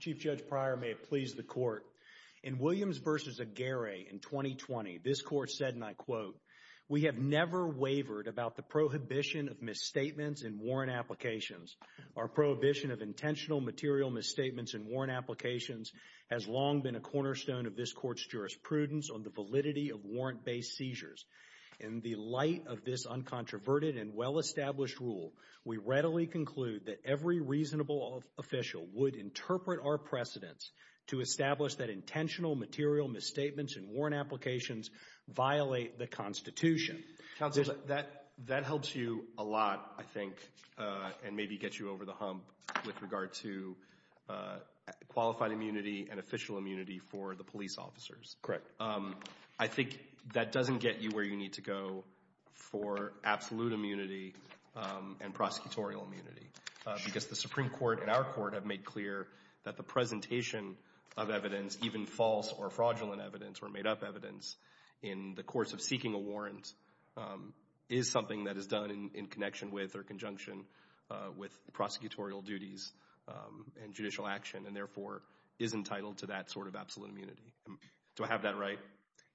Chief Judge Pryor, may it please the Court, in Williams v. Aguirre in 2020, this Court said, and I quote, We have never wavered about the prohibition of misstatements in warrant applications. Our prohibition of intentional material misstatements in warrant applications has long been a cornerstone of this Court's jurisprudence on the validity of warrant-based seizures. In the light of this uncontroverted and well-established rule, we readily conclude that every reasonable official would interpret our precedents to establish that intentional material misstatements in warrant applications violate the Constitution. Counsel, that helps you a lot, I think, and maybe gets you over the hump with regard to qualified immunity and official immunity for the police officers. Correct. I think that doesn't get you where you need to go for absolute immunity and prosecutorial immunity, because the Supreme Court and our Court have made clear that the presentation of evidence, even false or fraudulent evidence or made-up evidence, in the course of seeking a warrant is something that is done in connection with or conjunction with prosecutorial duties and judicial action and, therefore, is entitled to that sort of absolute immunity. Do I have that right?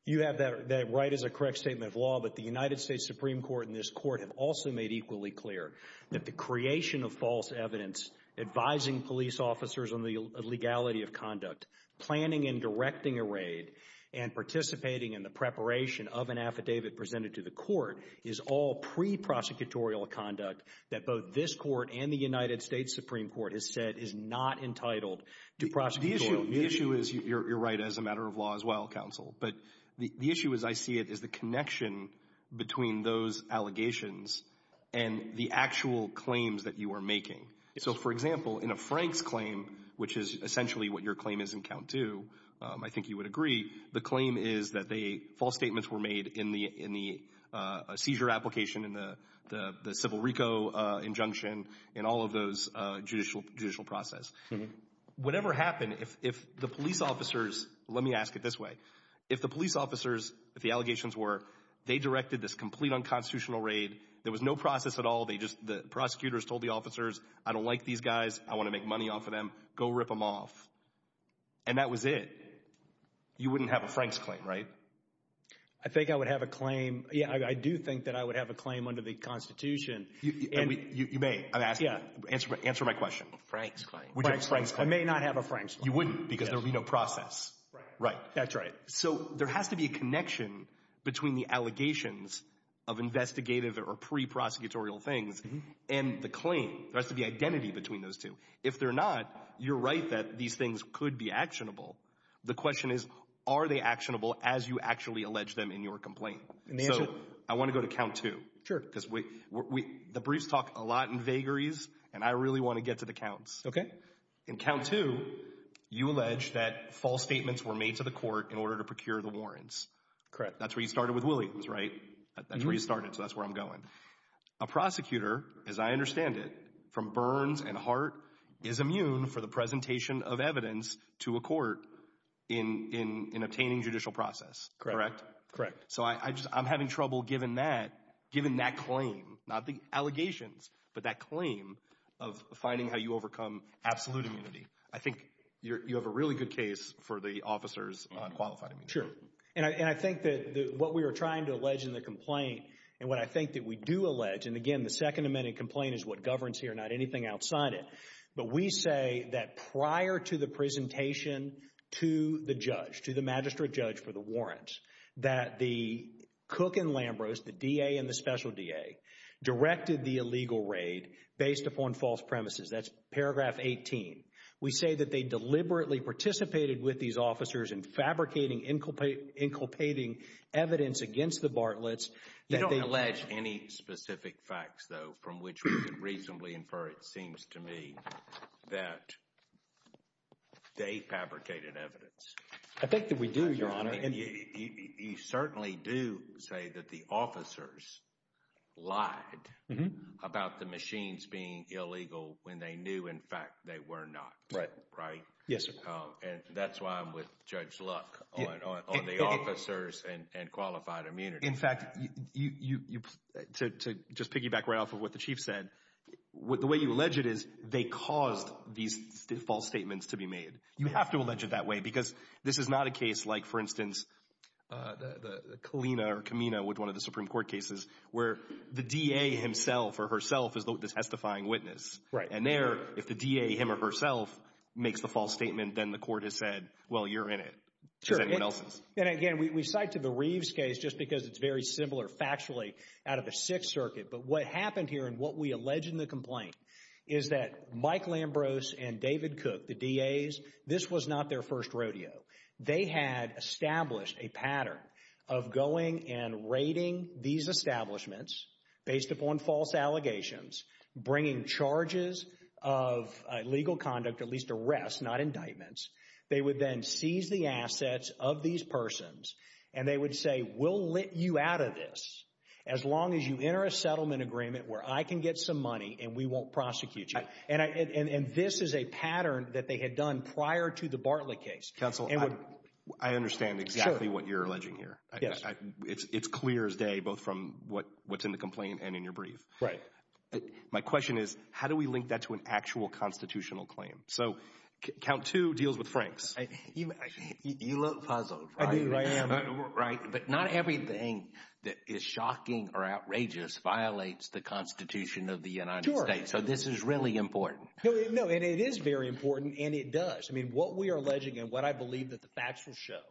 You have that right as a correct statement of law, but the United States Supreme Court and this Court have also made equally clear that the creation of false evidence advising police officers on the legality of conduct, planning and directing a raid, and participating in the preparation of an affidavit presented to the court is all pre-prosecutorial conduct that both this Court and the United States Supreme Court has said is not entitled to prosecutorial immunity. The issue is, you're right, as a matter of law as well, Counsel, but the issue as I see it is the connection between those allegations and the actual claims that you are making. So, for example, in a Frank's claim, which is essentially what your claim is in count two, I think you would agree, the claim is that false statements were made in the seizure application, in the civil RICO injunction, in all of those judicial process. Whatever happened, if the police officers, let me ask it this way, if the police officers, if the allegations were they directed this complete unconstitutional raid, there was no process at all, they just, the prosecutors told the officers, I don't like these guys, I want to make money off of them, go rip them off. And that was it. You wouldn't have a Frank's claim, right? I think I would have a claim, yeah, I do think that I would have a claim under the Constitution. You may, I'm asking, answer my question. Frank's claim. I may not have a Frank's claim. You wouldn't, because there would be no process. Right. That's right. So there has to be a connection between the allegations of investigative or pre-prosecutorial things and the claim. There has to be identity between those two. If they're not, you're right that these things could be actionable. The question is, are they actionable as you actually allege them in your complaint? So I want to go to count two. Sure. Because the briefs talk a lot in vagaries, and I really want to get to the counts. Okay. In count two, you allege that false statements were made to the court in order to procure the warrants. Correct. That's where you started with Williams, right? That's where you started, so that's where I'm going. A prosecutor, as I understand it, from burns and heart, is immune for the presentation of evidence to a court in obtaining judicial process, correct? Correct. So I just, I'm having trouble given that, given that claim, not the allegations, but that claim of finding how you overcome absolute immunity. I think you have a really good case for the officers on qualified immunity. Sure. And I think that what we were trying to allege in the complaint, and what I think that we do allege, and again, the Second Amendment complaint is what governs here, not anything outside it. But we say that prior to the presentation to the judge, to the magistrate judge for the warrants, that the Cook and Lambros, the DA and the special DA, directed the illegal raid based upon false premises. That's paragraph 18. We say that they deliberately participated with these officers in fabricating, inculpating evidence against the Bartlett's. You don't allege any specific facts, though, from which we could reasonably infer, it seems to me, that they fabricated evidence. I think that we do, Your Honor. And you certainly do say that the officers lied about the machines being illegal when they knew, in fact, they were not, right? Yes, sir. And that's why I'm with Judge Luck on the officers and qualified immunity. In fact, to just piggyback right off of what the Chief said, the way you allege it is they caused these false statements to be made. You have to allege it that way because this is not a case like, for instance, the Kalina or Kamina with one of the Supreme Court cases where the DA himself or herself is the testifying witness. Right. And there, if the DA, him or herself, makes the false statement, then the court has said, well, you're in it, as anyone else is. And again, we cite to the Reeves case just because it's very similar factually out of the Sixth Circuit. But what happened here and what we allege in the complaint is that Mike Lambros and David Cook, the DAs, this was not their first rodeo. They had established a pattern of going and raiding these establishments based upon false allegations, bringing charges of illegal conduct, at least arrests, not indictments. They would then seize the assets of these persons and they would say, we'll let you out of this as long as you enter a settlement agreement where I can get some money and we won't prosecute you. And this is a pattern that they had done prior to the Bartlett case. Counsel, I understand exactly what you're alleging here. It's clear as day, both from what's in the complaint and in your brief. Right. My question is, how do we link that to an actual constitutional claim? So count two deals with Franks. You look puzzled. I do. I am. Right. But not everything that is shocking or outrageous violates the Constitution of the United States. So this is really important. No, and it is very important. And it does. I mean, what we are alleging and what I believe that the facts will show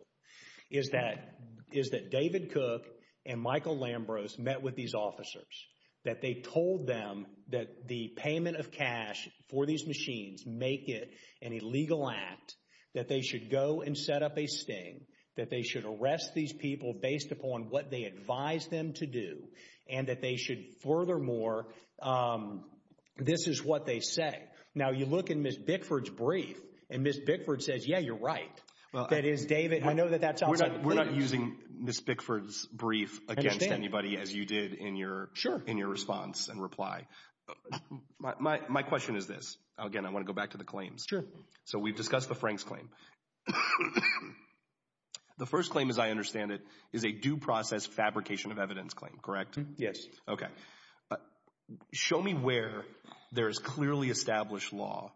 is that is that David Cook and Michael Lambros met with these officers, that they told them that the payment of cash for these machines make it an illegal act, that they should go and set up a sting, that they should arrest these people based upon what they advise them to do, and that they furthermore, this is what they say. Now, you look in Ms. Bickford's brief and Ms. Bickford says, yeah, you're right. Well, that is David. I know that that's outside. We're not using Ms. Bickford's brief against anybody as you did in your response and reply. My question is this. Again, I want to go back to the claims. Sure. So we've discussed the Franks claim. The first claim, as I understand it, is a due process fabrication of evidence claim, correct? Yes. Okay. Show me where there is clearly established law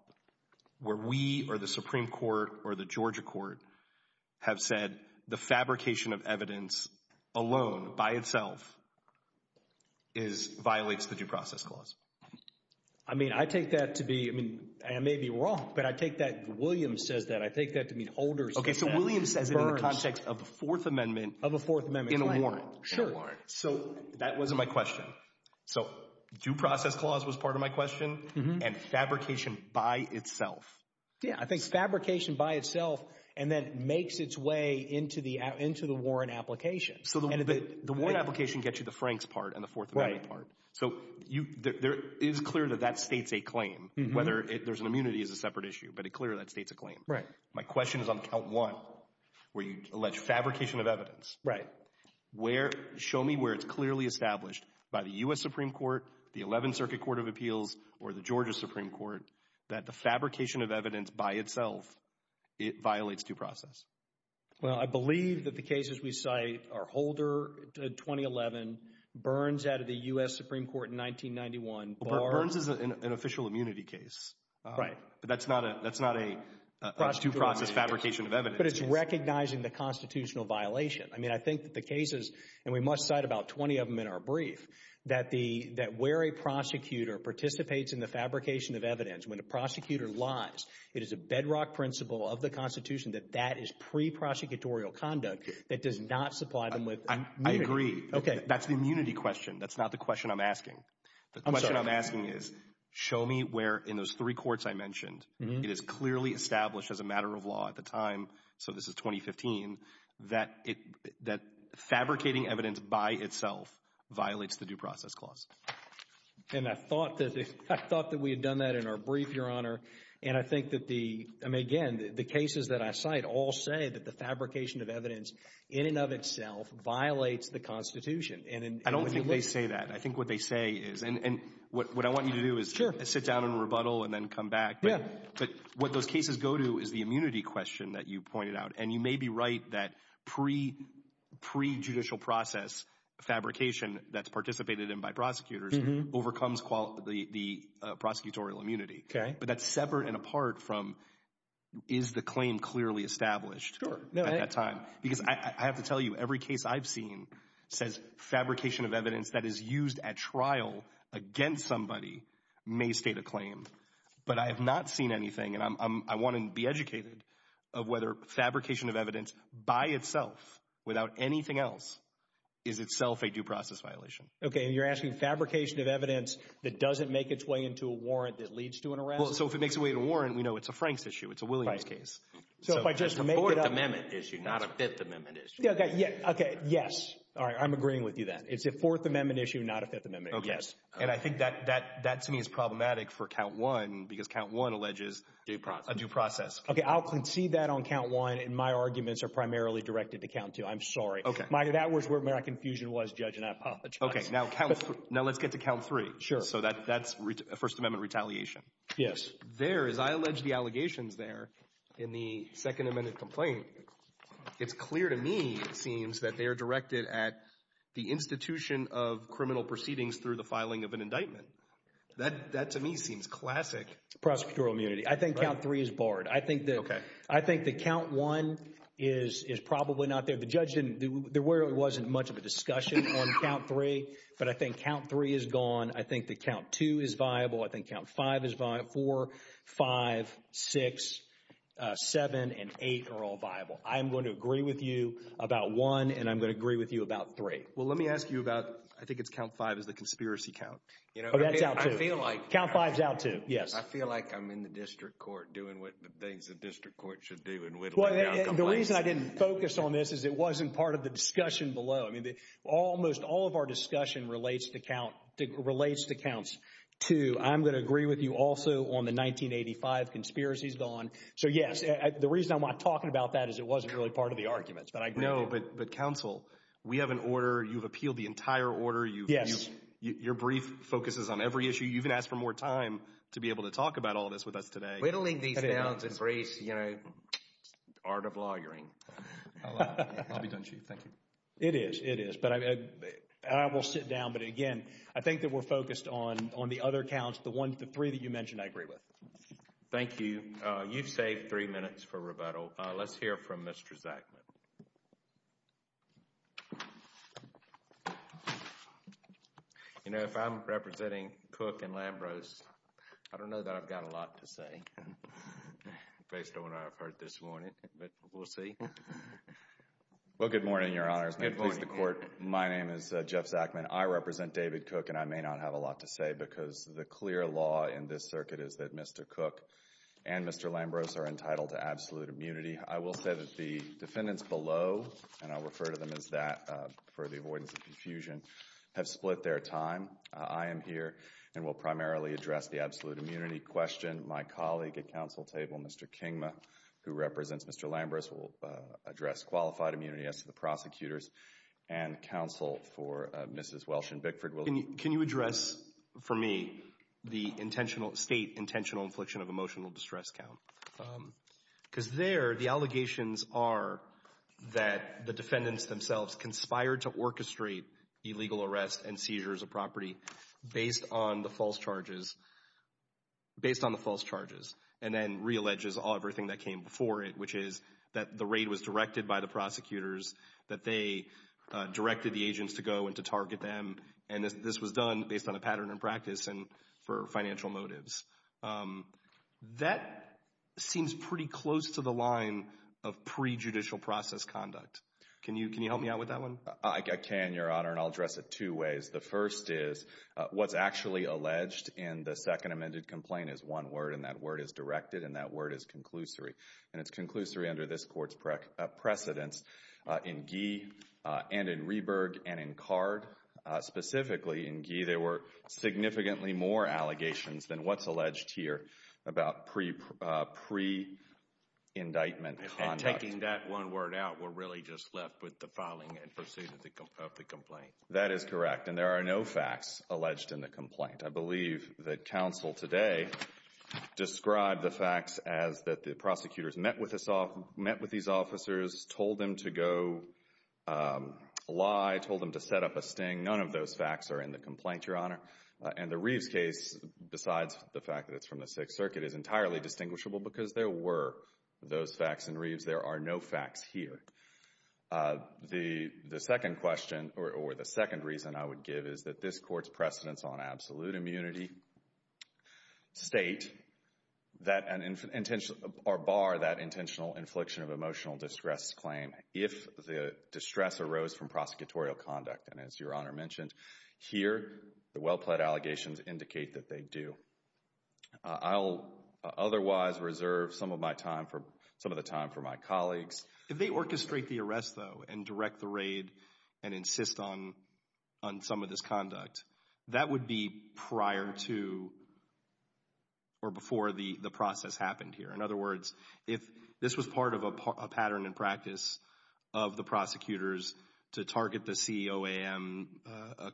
where we or the Supreme Court or the Georgia Court have said the fabrication of evidence alone by itself violates the due process clause. I mean, I take that to be, I mean, I may be wrong, but I take that, William says that, I take that to mean holders. Okay, so William says it in the context of the Fourth Amendment. Of the Fourth Amendment. In a warrant. Sure. So that wasn't my question. So due process clause was part of my question and fabrication by itself. Yeah, I think fabrication by itself and then makes its way into the Warren application. So the Warren application gets you the Franks part and the Fourth Amendment part. So there is clear that that states a claim, whether there's an immunity is a separate issue, but it clearly states a claim. Right. My question is on count one, where you allege fabrication of evidence. Right. Where, show me where it's clearly established by the U.S. Supreme Court, the 11th Circuit Court of Appeals or the Georgia Supreme Court that the fabrication of evidence by itself, it violates due process. Well, I believe that the cases we cite are Holder, 2011, Burns out of the U.S. Supreme Court in 1991. Burns is an official immunity case. Right. But that's not a, that's not a due process fabrication of evidence. But it's recognizing the constitutional violation. I mean, I think that the cases, and we must cite about 20 of them in our brief, that the, that where a prosecutor participates in the fabrication of evidence, when the prosecutor lies, it is a bedrock principle of the Constitution that that is pre-prosecutorial conduct that does not supply them with immunity. I agree. Okay. That's the immunity question. That's not the question I'm asking. The question I'm asking is, show me where in those three courts I mentioned, it is clearly established as a matter of law at the time, so this is 2015, that it, that fabricating evidence by itself violates the due process clause. And I thought that, I thought that we had done that in our brief, Your Honor. And I think that the, I mean, again, the cases that I cite all say that the fabrication of evidence in and of itself violates the Constitution. And I don't think they say that. I think what they say is, and what I want you to do is sit down and rebuttal and then come back. Yeah. But what those cases go to is the immunity question that you pointed out. And you may be right that pre-judicial process fabrication that's participated in by prosecutors overcomes the prosecutorial immunity. Okay. But that's separate and apart from, is the claim clearly established at that time? Because I have to tell you, every case I've seen says fabrication of evidence that is I want to be educated of whether fabrication of evidence by itself, without anything else, is itself a due process violation. Okay. And you're asking fabrication of evidence that doesn't make its way into a warrant that leads to an arrest? So if it makes a way to warrant, we know it's a Frank's issue. It's a Williams case. So if I just make it up. It's a Fourth Amendment issue, not a Fifth Amendment issue. Okay. Yes. All right. I'm agreeing with you then. It's a Fourth Amendment issue, not a Fifth Amendment issue. Yes. And I think that to me is problematic for count one, because count one alleges a due process. Okay. I'll concede that on count one, and my arguments are primarily directed to count two. I'm sorry. Okay. That was where my confusion was, Judge, and I apologize. Okay. Now let's get to count three. Sure. So that's First Amendment retaliation. There, as I allege the allegations there in the Second Amendment complaint, it's clear to me, it seems, that they are directed at the institution of criminal proceedings through the filing of an indictment. That, to me, seems classic. Prosecutorial immunity. I think count three is barred. I think that count one is probably not there. The judge didn't, there really wasn't much of a discussion on count three. But I think count three is gone. I think that count two is viable. I think count five is viable. Four, five, six, seven, and eight are all viable. I'm going to agree with you about one, and I'm going to agree with you about three. Well, let me ask you about, I think it's count five is the conspiracy count. Oh, that's out too. Count five is out too. Yes. I feel like I'm in the district court doing what the things the district court should do in whittling down complaints. The reason I didn't focus on this is it wasn't part of the discussion below. I mean, almost all of our discussion relates to counts two. I'm going to agree with you also on the 1985 conspiracy is gone. So, yes, the reason I'm not talking about that is it wasn't really part of the arguments. But I agree. But counsel, we have an order. You've appealed the entire order. Yes. Your brief focuses on every issue. You've been asked for more time to be able to talk about all this with us today. Whittling these downs and briefs, you know. Art of lawyering. I'll be done, Chief. Thank you. It is. It is. But I will sit down. But again, I think that we're focused on the other counts, the three that you mentioned, I agree with. Thank you. You've saved three minutes for rebuttal. Let's hear from Mr. Zachman. You know, if I'm representing Cook and Lambros, I don't know that I've got a lot to say based on what I've heard this morning. But we'll see. Well, good morning, Your Honors. Good morning. May it please the Court. My name is Jeff Zachman. I represent David Cook and I may not have a lot to say because the clear law in this circuit is that Mr. Cook and Mr. Lambros are entitled to absolute immunity. I will say that the defendants below, and I'll refer to them as that for the avoidance of confusion, have split their time. I am here and will primarily address the absolute immunity question. My colleague at counsel table, Mr. Kingma, who represents Mr. Lambros, will address qualified immunity as to the prosecutors and counsel for Mrs. Welsh and Bickford. Can you address for me the intentional, state intentional infliction of emotional distress count? Because there, the allegations are that the defendants themselves conspired to orchestrate illegal arrests and seizures of property based on the false charges, based on the false charges, and then realleges everything that came before it, which is that the raid was directed by the prosecutors, that they directed the agents to go and to target them, and this was done based on a pattern and practice and for financial motives. That seems pretty close to the line of prejudicial process conduct. Can you help me out with that one? I can, Your Honor, and I'll address it two ways. The first is, what's actually alleged in the second amended complaint is one word, and that word is directed, and that word is conclusory. And it's conclusory under this court's precedence. In Gee, and in Reberg, and in Card, specifically in Gee, there were significantly more allegations than what's alleged here about pre-indictment conduct. And taking that one word out, we're really just left with the filing and pursuit of the complaint. That is correct, and there are no facts alleged in the complaint. I believe that counsel today described the facts as that the prosecutors met with these officers, told them to go lie, told them to set up a sting. None of those facts are in the complaint, Your Honor. And the Reeves case, besides the fact that it's from the Sixth Circuit, is entirely distinguishable because there were those facts in Reeves. There are no facts here. The second question, or the second reason I would give, is that this court's precedence on absolute immunity state that, or bar that intentional infliction of emotional distress claim if the distress arose from prosecutorial conduct. And as Your Honor mentioned, here, the well-plead allegations indicate that they do. I'll otherwise reserve some of my time for, some of the time for my colleagues. If they orchestrate the arrest though, and direct the raid, and insist on some of this conduct, that would be prior to or before the process happened here. In other words, if this was part of a pattern and practice of the prosecutors to target the COAM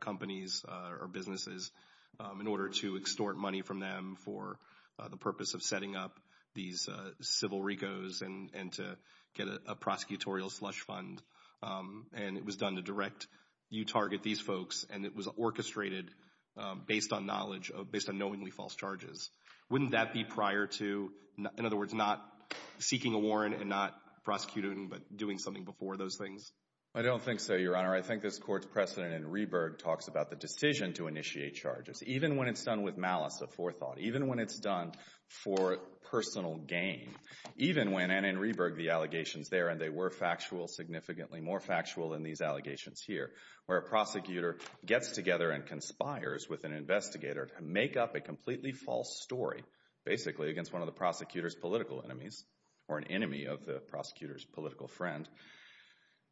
companies or businesses in order to extort money from them for the purpose of setting up these civil RICOs and to get a prosecutorial slush fund, and it was done to direct, you target these folks, and it was orchestrated based on knowledge, based on knowingly false charges, wouldn't that be prior to, in other words, not seeking a warrant and not prosecuting, but doing something before those things? I don't think so, Your Honor. I think this Court's precedent in Rehberg talks about the decision to initiate charges. Even when it's done with malice of forethought, even when it's done for personal gain, even when, and in Rehberg the allegations there, and they were factual, significantly more factual than these allegations here, where a prosecutor gets together and conspires with an investigator to make up a completely false story, basically against one of the prosecutor's political enemies, or an enemy of the prosecutor's political friend,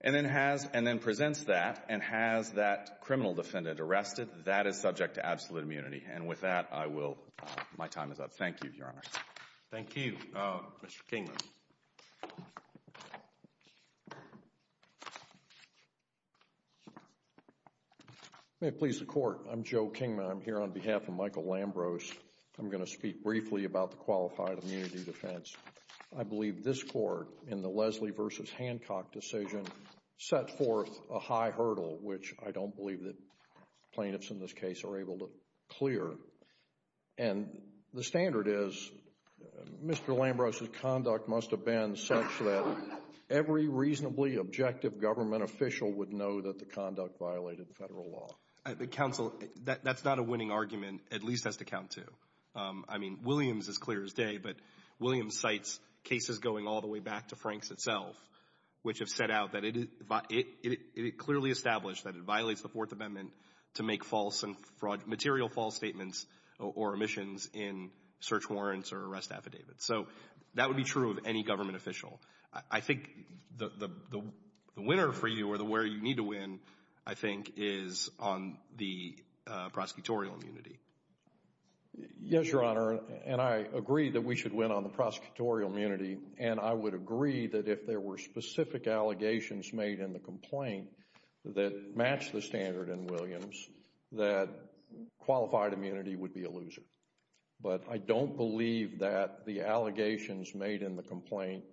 and then presents that and has that criminal defendant arrested, that is subject to absolute immunity. And with that, I will, my time is up. Thank you, Your Honor. Thank you. Mr. Kingman. May it please the Court. I'm Joe Kingman. I'm here on behalf of Michael Lambros. I'm going to speak briefly about the qualified immunity defense. I believe this Court, in the Leslie v. Hancock decision, set forth a high hurdle, which I don't believe that plaintiffs in this case are able to clear. And the standard is Mr. Lambros' conduct must have been such that every reasonably objective government official would know that the conduct violated federal law. Counsel, that's not a winning argument. At least it has to count to. I mean, Williams is clear as day, but Williams cites cases going all the way back to Franks itself, which have set out that it clearly established that it violates the Fourth Amendment to make false and material false statements or omissions in search warrants or arrest affidavits. So that would be true of any government official. I think the winner for you or where you need to win, I think, is on the prosecutorial immunity. Yes, Your Honor. And I agree that we should win on the prosecutorial immunity. And I would agree that if there were specific allegations made in the complaint that match the standard in Williams, that qualified immunity would be a loser. But I don't believe that the allegations made in the complaint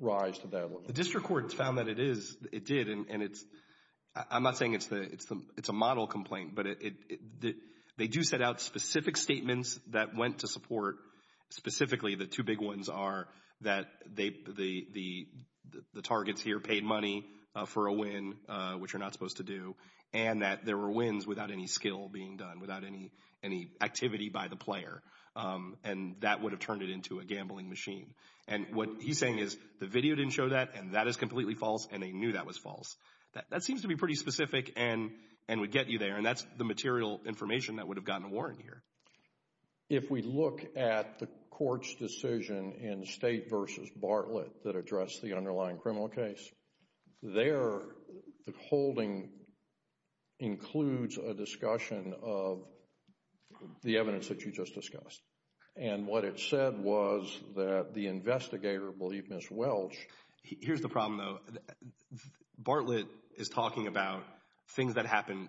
rise to that level. The district court found that it is. It did. And it's I'm not saying it's the it's the it's a model complaint. But they do set out specific statements that went to support specifically the two big ones are that they the the the targets here paid money for a win, which you're not supposed to do, and that there were wins without any skill being done, without any any activity by the player. And that would have turned it into a gambling machine. And what he's saying is the video didn't show that. And that is completely false. And they knew that was false. That seems to be pretty specific and and would get you there. And that's the material information that would have gotten a warrant here. If we look at the court's decision in State versus Bartlett that addressed the underlying criminal case, their holding includes a discussion of the evidence that you just discussed. And what it said was that the investigator believed Ms. Welch. Here's the problem, though. Bartlett is talking about things that happen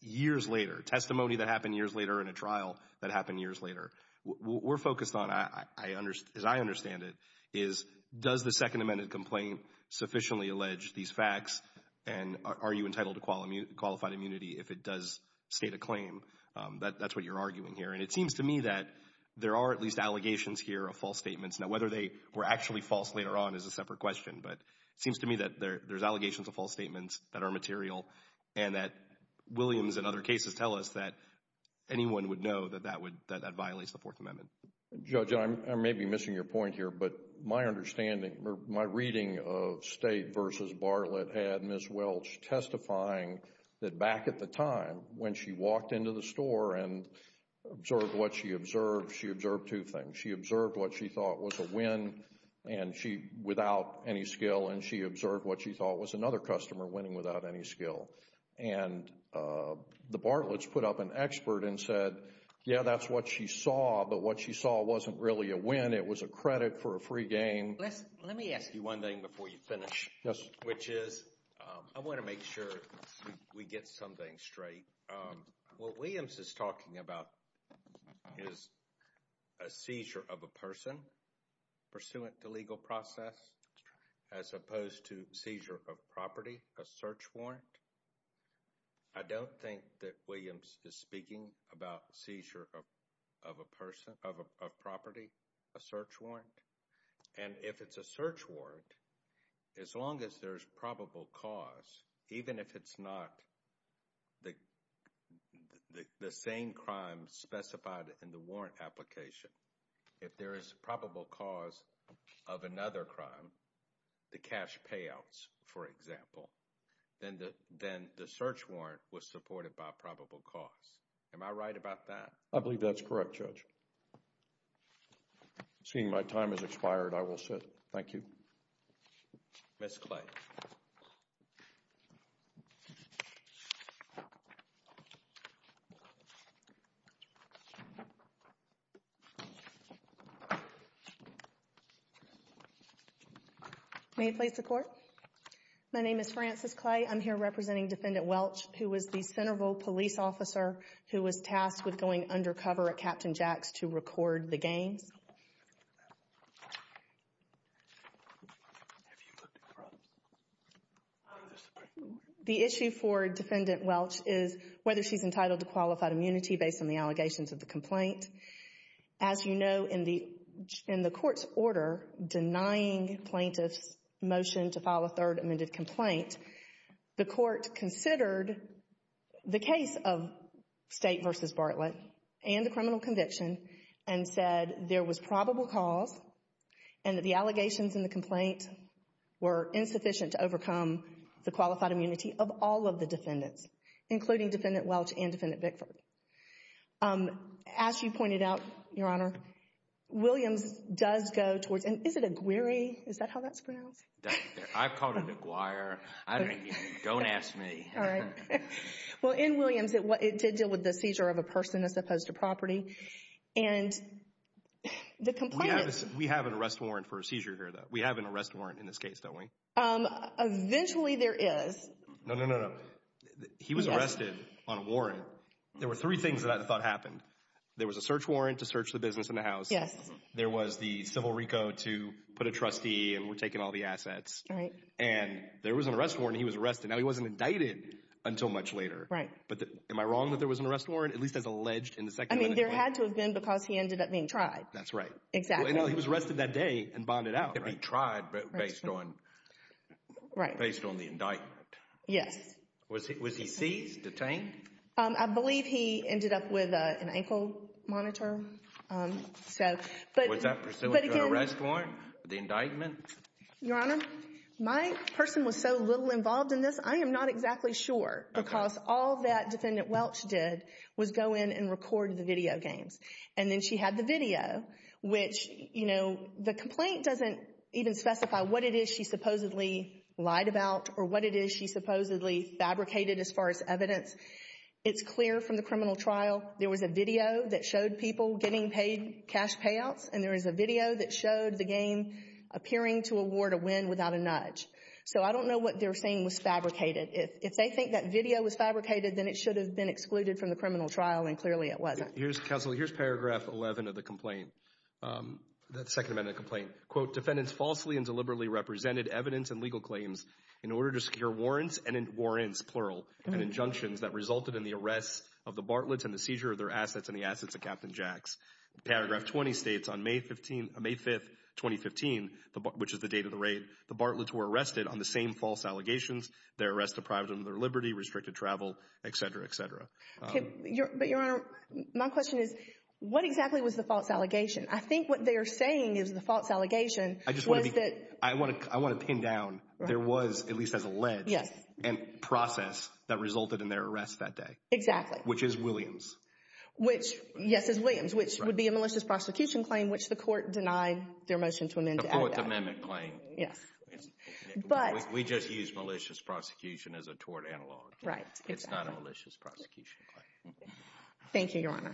years later, testimony that happened years later in a trial that happened years later. We're focused on, as I understand it, is does the Second Amendment complaint sufficiently allege these facts? And are you entitled to qualified immunity if it does state a claim? That's what you're arguing here. And it seems to me that there are at least allegations here of false statements. Now, whether they were actually false later on is a separate question. But it seems to me that there's allegations of false statements that are material and that Williams and other cases tell us that anyone would know that that would that violates the Fourth Amendment. Judge, I may be missing your point here, but my understanding, my reading of State versus Bartlett had Ms. Welch testifying that back at the time when she walked into the store and observed what she observed, she observed two things. She observed what she thought was a win and she without any skill and she observed what she thought was another customer winning without any skill. And the Bartlett's put up an expert and said, yeah, that's what she saw. But what she saw wasn't really a win. It was a credit for a free game. Let me ask you one thing before you finish. Yes. Which is I want to make sure we get something straight. What Williams is talking about is a seizure of a person pursuant to legal process as opposed to seizure of property, a search warrant. I don't think that Williams is speaking about seizure of a person of property, a search warrant. And if it's a search warrant, as long as there's probable cause, even if it's not the same crime specified in the warrant application, if there is probable cause of another crime, the cash payouts, for example, then the search warrant was supported by probable cause. Am I right about that? I believe that's correct, Judge. Seeing my time has expired, I will sit. Thank you. Ms. Clay. May it please the Court? My name is Frances Clay. I'm here representing Defendant Welch, who was the Centerville police officer who was tasked with going undercover at Captain Jack's to record the games. Have you looked at the problems? The issue for Defendant Welch is whether she's entitled to qualified immunity based on the allegations of the complaint. As you know, in the Court's order denying plaintiffs' motion to file a third amended complaint, the Court considered the case of State v. Bartlett and the criminal conviction and said there was probable cause and that the allegations in the complaint were insufficient to overcome the qualified immunity of all of the defendants, including Defendant Welch and Defendant Bickford. As you pointed out, Your Honor, Williams does go towards, and is it Aguirre? Is that how that's pronounced? I've called it Aguirre. I mean, don't ask me. Well, in Williams, it did deal with the seizure of a person as opposed to property. And the complaint— We have an arrest warrant for a seizure here, though. We have an arrest warrant in this case, don't we? Eventually, there is. No, no, no, no. He was arrested on a warrant. There were three things that I thought happened. There was a search warrant to search the business and the house. Yes. There was the civil recode to put a trustee and we're taking all the assets. Right. And there was an arrest warrant. He was arrested. Now, he wasn't indicted until much later. Right. But am I wrong that there was an arrest warrant, at least as alleged in the second— I mean, there had to have been because he ended up being tried. That's right. Exactly. Well, he was arrested that day and bonded out, right? He'd been tried, but based on the indictment. Yes. Was he seized, detained? I believe he ended up with an ankle monitor. So, but— Was that pursuant to an arrest warrant, the indictment? Your Honor, my person was so little involved in this, I am not exactly sure. Okay. All that Defendant Welch did was go in and record the video games. And then she had the video, which, you know, the complaint doesn't even specify what it is she supposedly lied about or what it is she supposedly fabricated as far as evidence. It's clear from the criminal trial there was a video that showed people getting paid cash payouts and there is a video that showed the game appearing to award a win without a nudge. So, I don't know what they're saying was fabricated. If they think that video was fabricated, then it should have been excluded from the criminal trial and clearly it wasn't. Your Honor, counsel, here's paragraph 11 of the complaint, that second amendment complaint. Quote, defendants falsely and deliberately represented evidence and legal claims in order to secure warrants and warrants, plural, and injunctions that resulted in the arrest of the Bartlett's and the seizure of their assets and the assets of Captain Jack's. Paragraph 20 states on May 15, May 5, 2015, which is the date of the raid, the Bartlett's were arrested on the same false allegations, their arrest deprived them of their liberty, restricted travel, etc., etc. But Your Honor, my question is, what exactly was the false allegation? I think what they're saying is the false allegation was that... I want to pin down, there was, at least as alleged, a process that resulted in their arrest that day. Exactly. Which is Williams. Which, yes, is Williams, which would be a malicious prosecution claim, which the court denied their motion to amend. The fourth amendment claim. Yes, but... We just use malicious prosecution as a tort analog. Right, exactly. It's not a malicious prosecution claim. Thank you, Your Honor.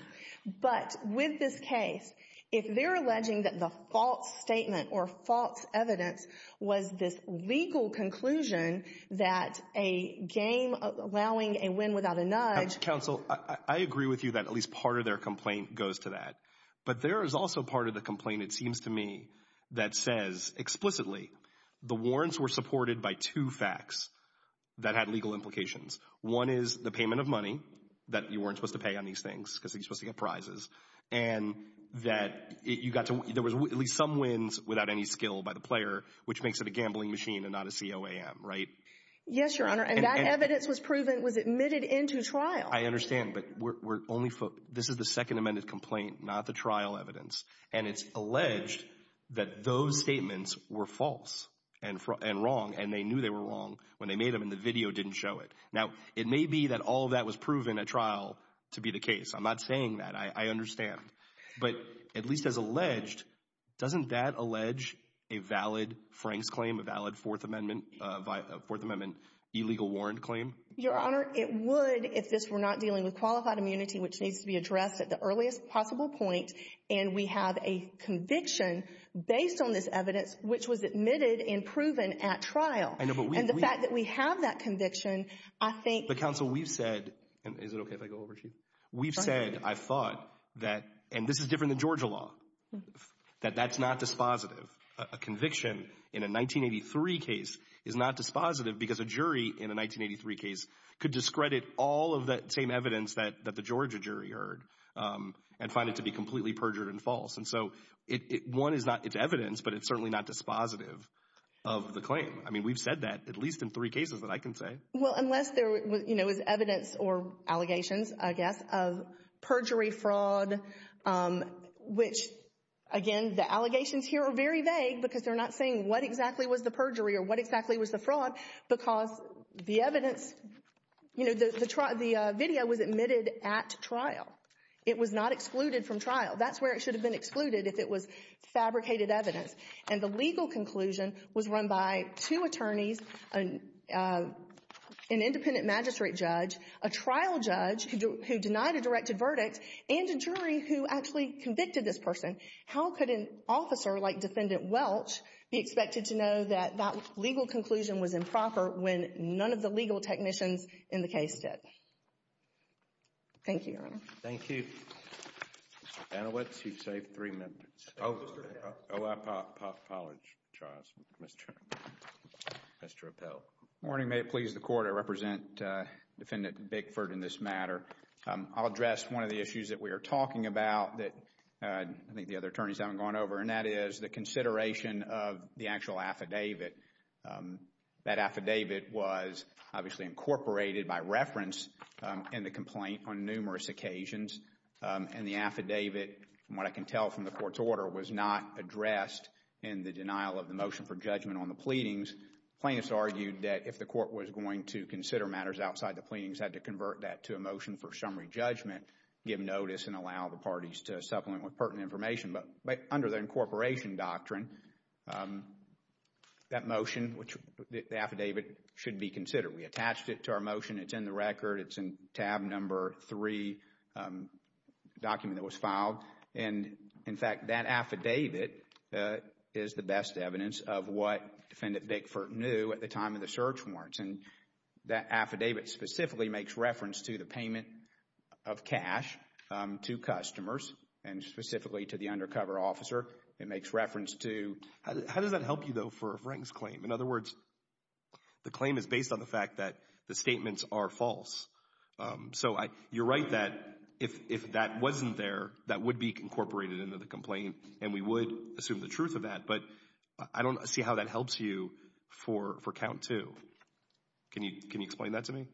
But with this case, if they're alleging that the false statement or false evidence was this legal conclusion that a game allowing a win without a nudge... Counsel, I agree with you that at least part of their complaint goes to that. But there is also part of the complaint, it seems to me, that says explicitly the warrants were supported by two facts that had legal implications. One is the payment of money that you weren't supposed to pay on these things because you're supposed to get prizes. And that you got to... There was at least some wins without any skill by the player, which makes it a gambling machine and not a COAM, right? Yes, Your Honor, and that evidence was proven, was admitted into trial. I understand, but we're only... This is the second amended complaint, not the trial evidence. And it's alleged that those statements were false and wrong, and they knew they were wrong when they made them, and the video didn't show it. Now, it may be that all of that was proven at trial to be the case. I'm not saying that. I understand. But at least as alleged, doesn't that allege a valid Frank's claim, a valid Fourth Amendment illegal warrant claim? Your Honor, it would if this were not dealing with qualified immunity, which needs to be addressed at the earliest possible point. And we have a conviction based on this evidence, which was admitted and proven at trial. I know, but we... And the fact that we have that conviction, I think... But counsel, we've said, and is it okay if I go over to you? We've said, I've thought that, and this is different than Georgia law, that that's not dispositive. A conviction in a 1983 case is not dispositive because a jury in a 1983 case could discredit all of that same evidence that the Georgia jury heard and find it to be completely perjured and false. And so, one, it's evidence, but it's certainly not dispositive of the claim. I mean, we've said that at least in three cases that I can say. Well, unless there was evidence or allegations, I guess, of perjury, fraud, which, again, the allegations here are very vague because they're not saying what exactly was the perjury or what exactly was the fraud because the evidence, you know, the video was admitted at trial. It was not excluded from trial. That's where it should have been excluded if it was fabricated evidence. And the legal conclusion was run by two attorneys, an independent magistrate judge, a trial judge who denied a directed verdict, and a jury who actually convicted this person. How could an officer like Defendant Welch be expected to know that that legal conclusion was improper when none of the legal technicians in the case did? Thank you, Your Honor. Thank you. Mr. Benowitz, you've saved three minutes. Oh, OIPOP College trials. Mr. Appell. Morning. May it please the Court. I represent Defendant Bickford in this matter. I'll address one of the issues that we are talking about that I think the other attorneys haven't gone over, and that is the consideration of the actual affidavit. That affidavit was obviously incorporated by reference in the complaint on numerous occasions. And the affidavit, from what I can tell from the Court's order, was not addressed in the denial of the motion for judgment on the pleadings. Plaintiffs argued that if the Court was going to consider matters outside the pleadings, had to convert that to a motion for summary judgment, give notice, and allow the parties to supplement with pertinent information. But under the incorporation doctrine, that motion, the affidavit, should be considered. We attached it to our motion. It's in the record. It's in tab number three, the document that was filed. And, in fact, that affidavit is the best evidence of what Defendant Bickford knew at the time of the search warrants. And that affidavit specifically makes reference to the payment of cash to customers, and specifically to the undercover officer. It makes reference to, how does that help you, though, for a Frank's claim? In other words, the claim is based on the fact that the statements are false. So you're right that if that wasn't there, that would be incorporated into the complaint, and we would assume the truth of that. But I don't see how that helps you for count two. Can you explain that to me?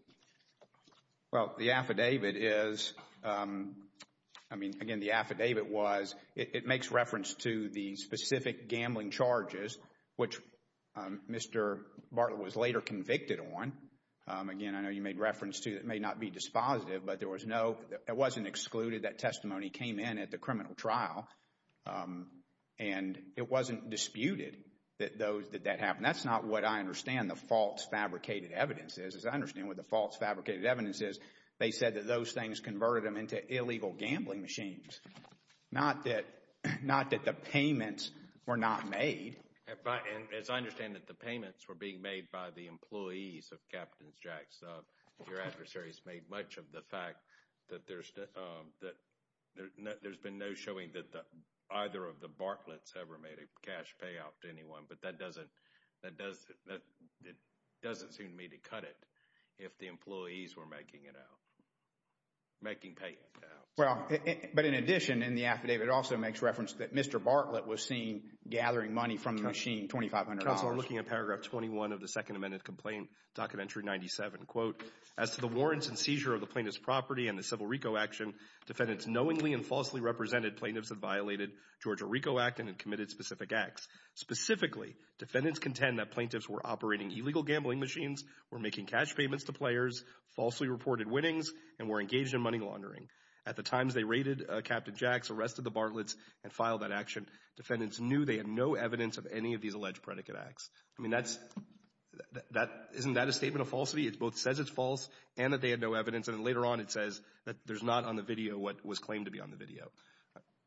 Well, the affidavit is, I mean, again, the affidavit was, it makes reference to the specific gambling charges, which Mr. Bartlett was later convicted on. Again, I know you made reference to it may not be dispositive, but there was no, it wasn't excluded. That testimony came in at the criminal trial. And it wasn't disputed that that happened. That's not what I understand the false fabricated evidence is. I understand what the false fabricated evidence is. They said that those things converted them into illegal gambling machines. Not that, not that the payments were not made. And as I understand that the payments were being made by the employees of Captain Jack's, your adversaries made much of the fact that there's, that there's been no showing that either of the Bartlett's ever made a cash payout to anyone. But that doesn't, that doesn't seem to me to cut it. If the employees were making it out, making payments out. Well, but in addition, in the affidavit, it also makes reference that Mr. Bartlett was seen gathering money from the machine, $2,500. Counselor, looking at paragraph 21 of the second amended complaint, documentary 97, quote, as to the warrants and seizure of the plaintiff's property and the civil RICO action, defendants knowingly and falsely represented plaintiffs that violated Georgia RICO Act and had committed specific acts. Specifically, defendants contend that plaintiffs were operating illegal gambling machines, were making cash payments to players, falsely reported winnings, and were engaged in money laundering. At the times they raided Captain Jack's, arrested the Bartlett's and filed that action, defendants knew they had no evidence of any of these alleged predicate acts. I mean, that's, that, isn't that a statement of falsity? It both says it's false and that they had no evidence. And then later on, it says that there's not on the video what was claimed to be on the video.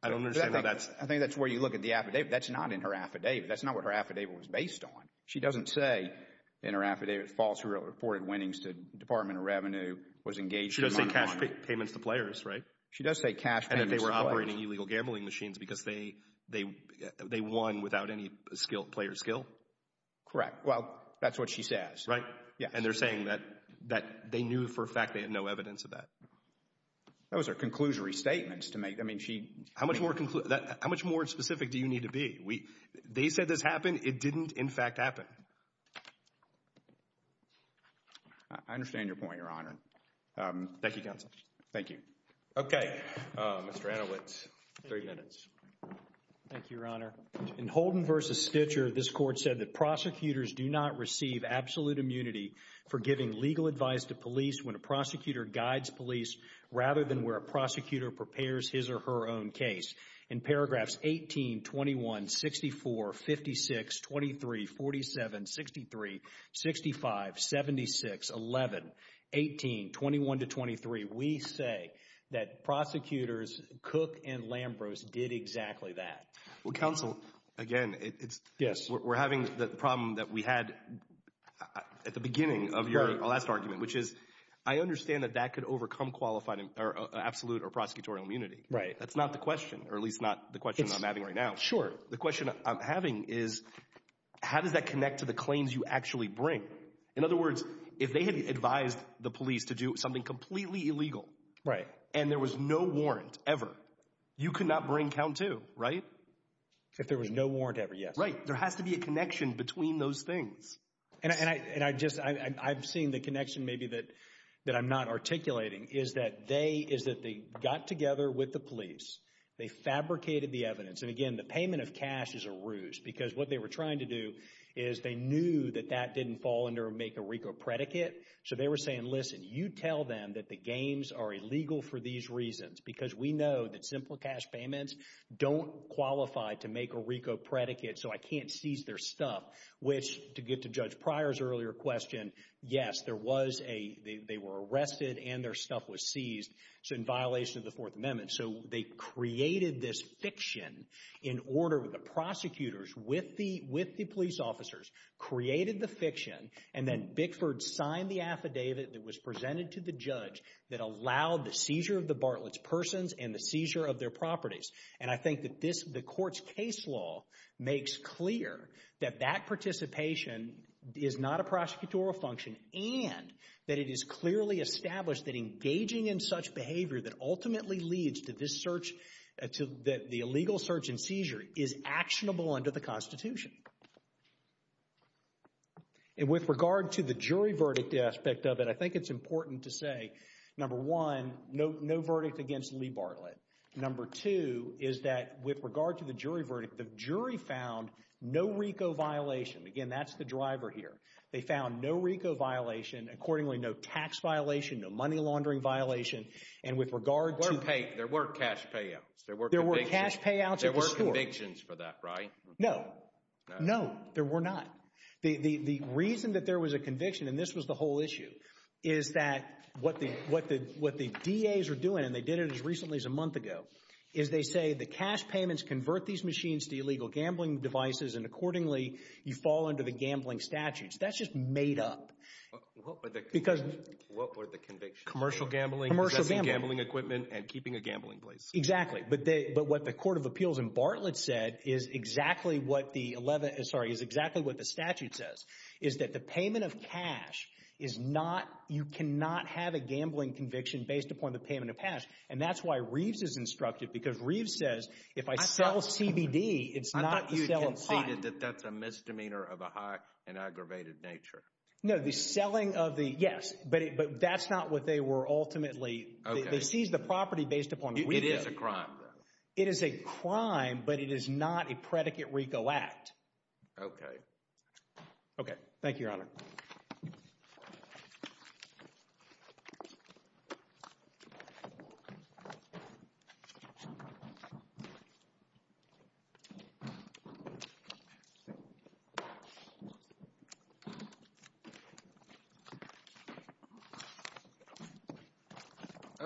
I don't understand why that's. I think that's where you look at the affidavit. That's not in her affidavit. That's not what her affidavit was based on. She doesn't say in her affidavit, falsely reported winnings to Department of Revenue, was engaged in money laundering. She does say cash payments to players, right? She does say cash payments to players. And that they were operating illegal gambling machines because they, they won without any skill, player skill? Correct. Well, that's what she says. Right? Yeah. And they're saying that, that they knew for a fact they had no evidence of that. That was her conclusory statement to make. I mean, she. How much more, how much more specific do you need to be? They said this happened. It didn't, in fact, happen. I understand your point, Your Honor. Thank you, counsel. Thank you. Okay. Mr. Anowitz, three minutes. Thank you, Your Honor. In Holden v. Stitcher, this court said that prosecutors do not receive absolute immunity for giving legal advice to police when a prosecutor guides police rather than where a prosecutor prepares his or her own case. In paragraphs 18, 21, 64, 56, 23, 47, 63, 65, 76, 11, 18, 21 to 23, we say that prosecutors Cook and Lambros did exactly that. Well, counsel, again, it's. Yes. We're having the problem that we had at the beginning of your last argument, which is, I understand that that could overcome qualified or absolute or prosecutorial immunity. Right. That's not the question, or at least not the question I'm having right now. Sure. The question I'm having is, how does that connect to the claims you actually bring? In other words, if they had advised the police to do something completely illegal. Right. And there was no warrant ever, you could not bring count two, right? If there was no warrant ever, yes. Right. There has to be a connection between those things. And I just, I've seen the connection maybe that I'm not articulating is that they got together with the police. They fabricated the evidence. And again, the payment of cash is a ruse because what they were trying to do is they knew that that didn't fall under make a RICO predicate. So they were saying, listen, you tell them that the games are illegal for these reasons, because we know that simple cash payments don't qualify to make a RICO predicate. So I can't seize their stuff, which to get to Judge Pryor's earlier question. Yes, there was a, they were arrested and their stuff was seized. So in violation of the Fourth Amendment. So they created this fiction in order with the prosecutors with the police officers created the fiction and then Bickford signed the affidavit that was presented to the judge that allowed the seizure of the Bartlett's persons and the seizure of their properties. And I think that this, the court's case law makes clear that that participation is not a prosecutorial function and that it is clearly established that engaging in such behavior that ultimately leads to this search, to the illegal search and seizure is actionable under the Constitution. And with regard to the jury verdict aspect of it, I think it's important to say, number one, no, no verdict against Lee Bartlett. Number two is that with regard to the jury verdict, the jury found no RICO violation. Again, that's the driver here. They found no RICO violation. Accordingly, no tax violation, no money laundering violation. And with regard to pay, there were cash payouts. There were cash payouts. There were convictions for that, right? No, no, there were not. The reason that there was a conviction and this was the whole issue is that what the, what the, what the DA's are doing, and they did it as recently as a month ago, is they say the cash payments convert these machines to illegal gambling devices and accordingly you fall under the gambling statute. That's just made up. Because. What were the convictions? Commercial gambling, possessing gambling equipment, and keeping a gambling place. Exactly. But what the Court of Appeals and Bartlett said is exactly what the 11th, sorry, is exactly what the statute says, is that the payment of cash is not, you cannot have a gambling conviction based upon the payment of cash. And that's why Reeves is instructed because Reeves says if I sell CBD, it's not the sale of pot. That's a misdemeanor of a high and aggravated nature. No, the selling of the, yes, but that's not what they were ultimately, they seized the property based upon RICO. It is a crime though. It is a crime, but it is not a predicate RICO act. Okay. Okay. Thank you, Your Honor. Thank you.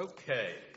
Okay.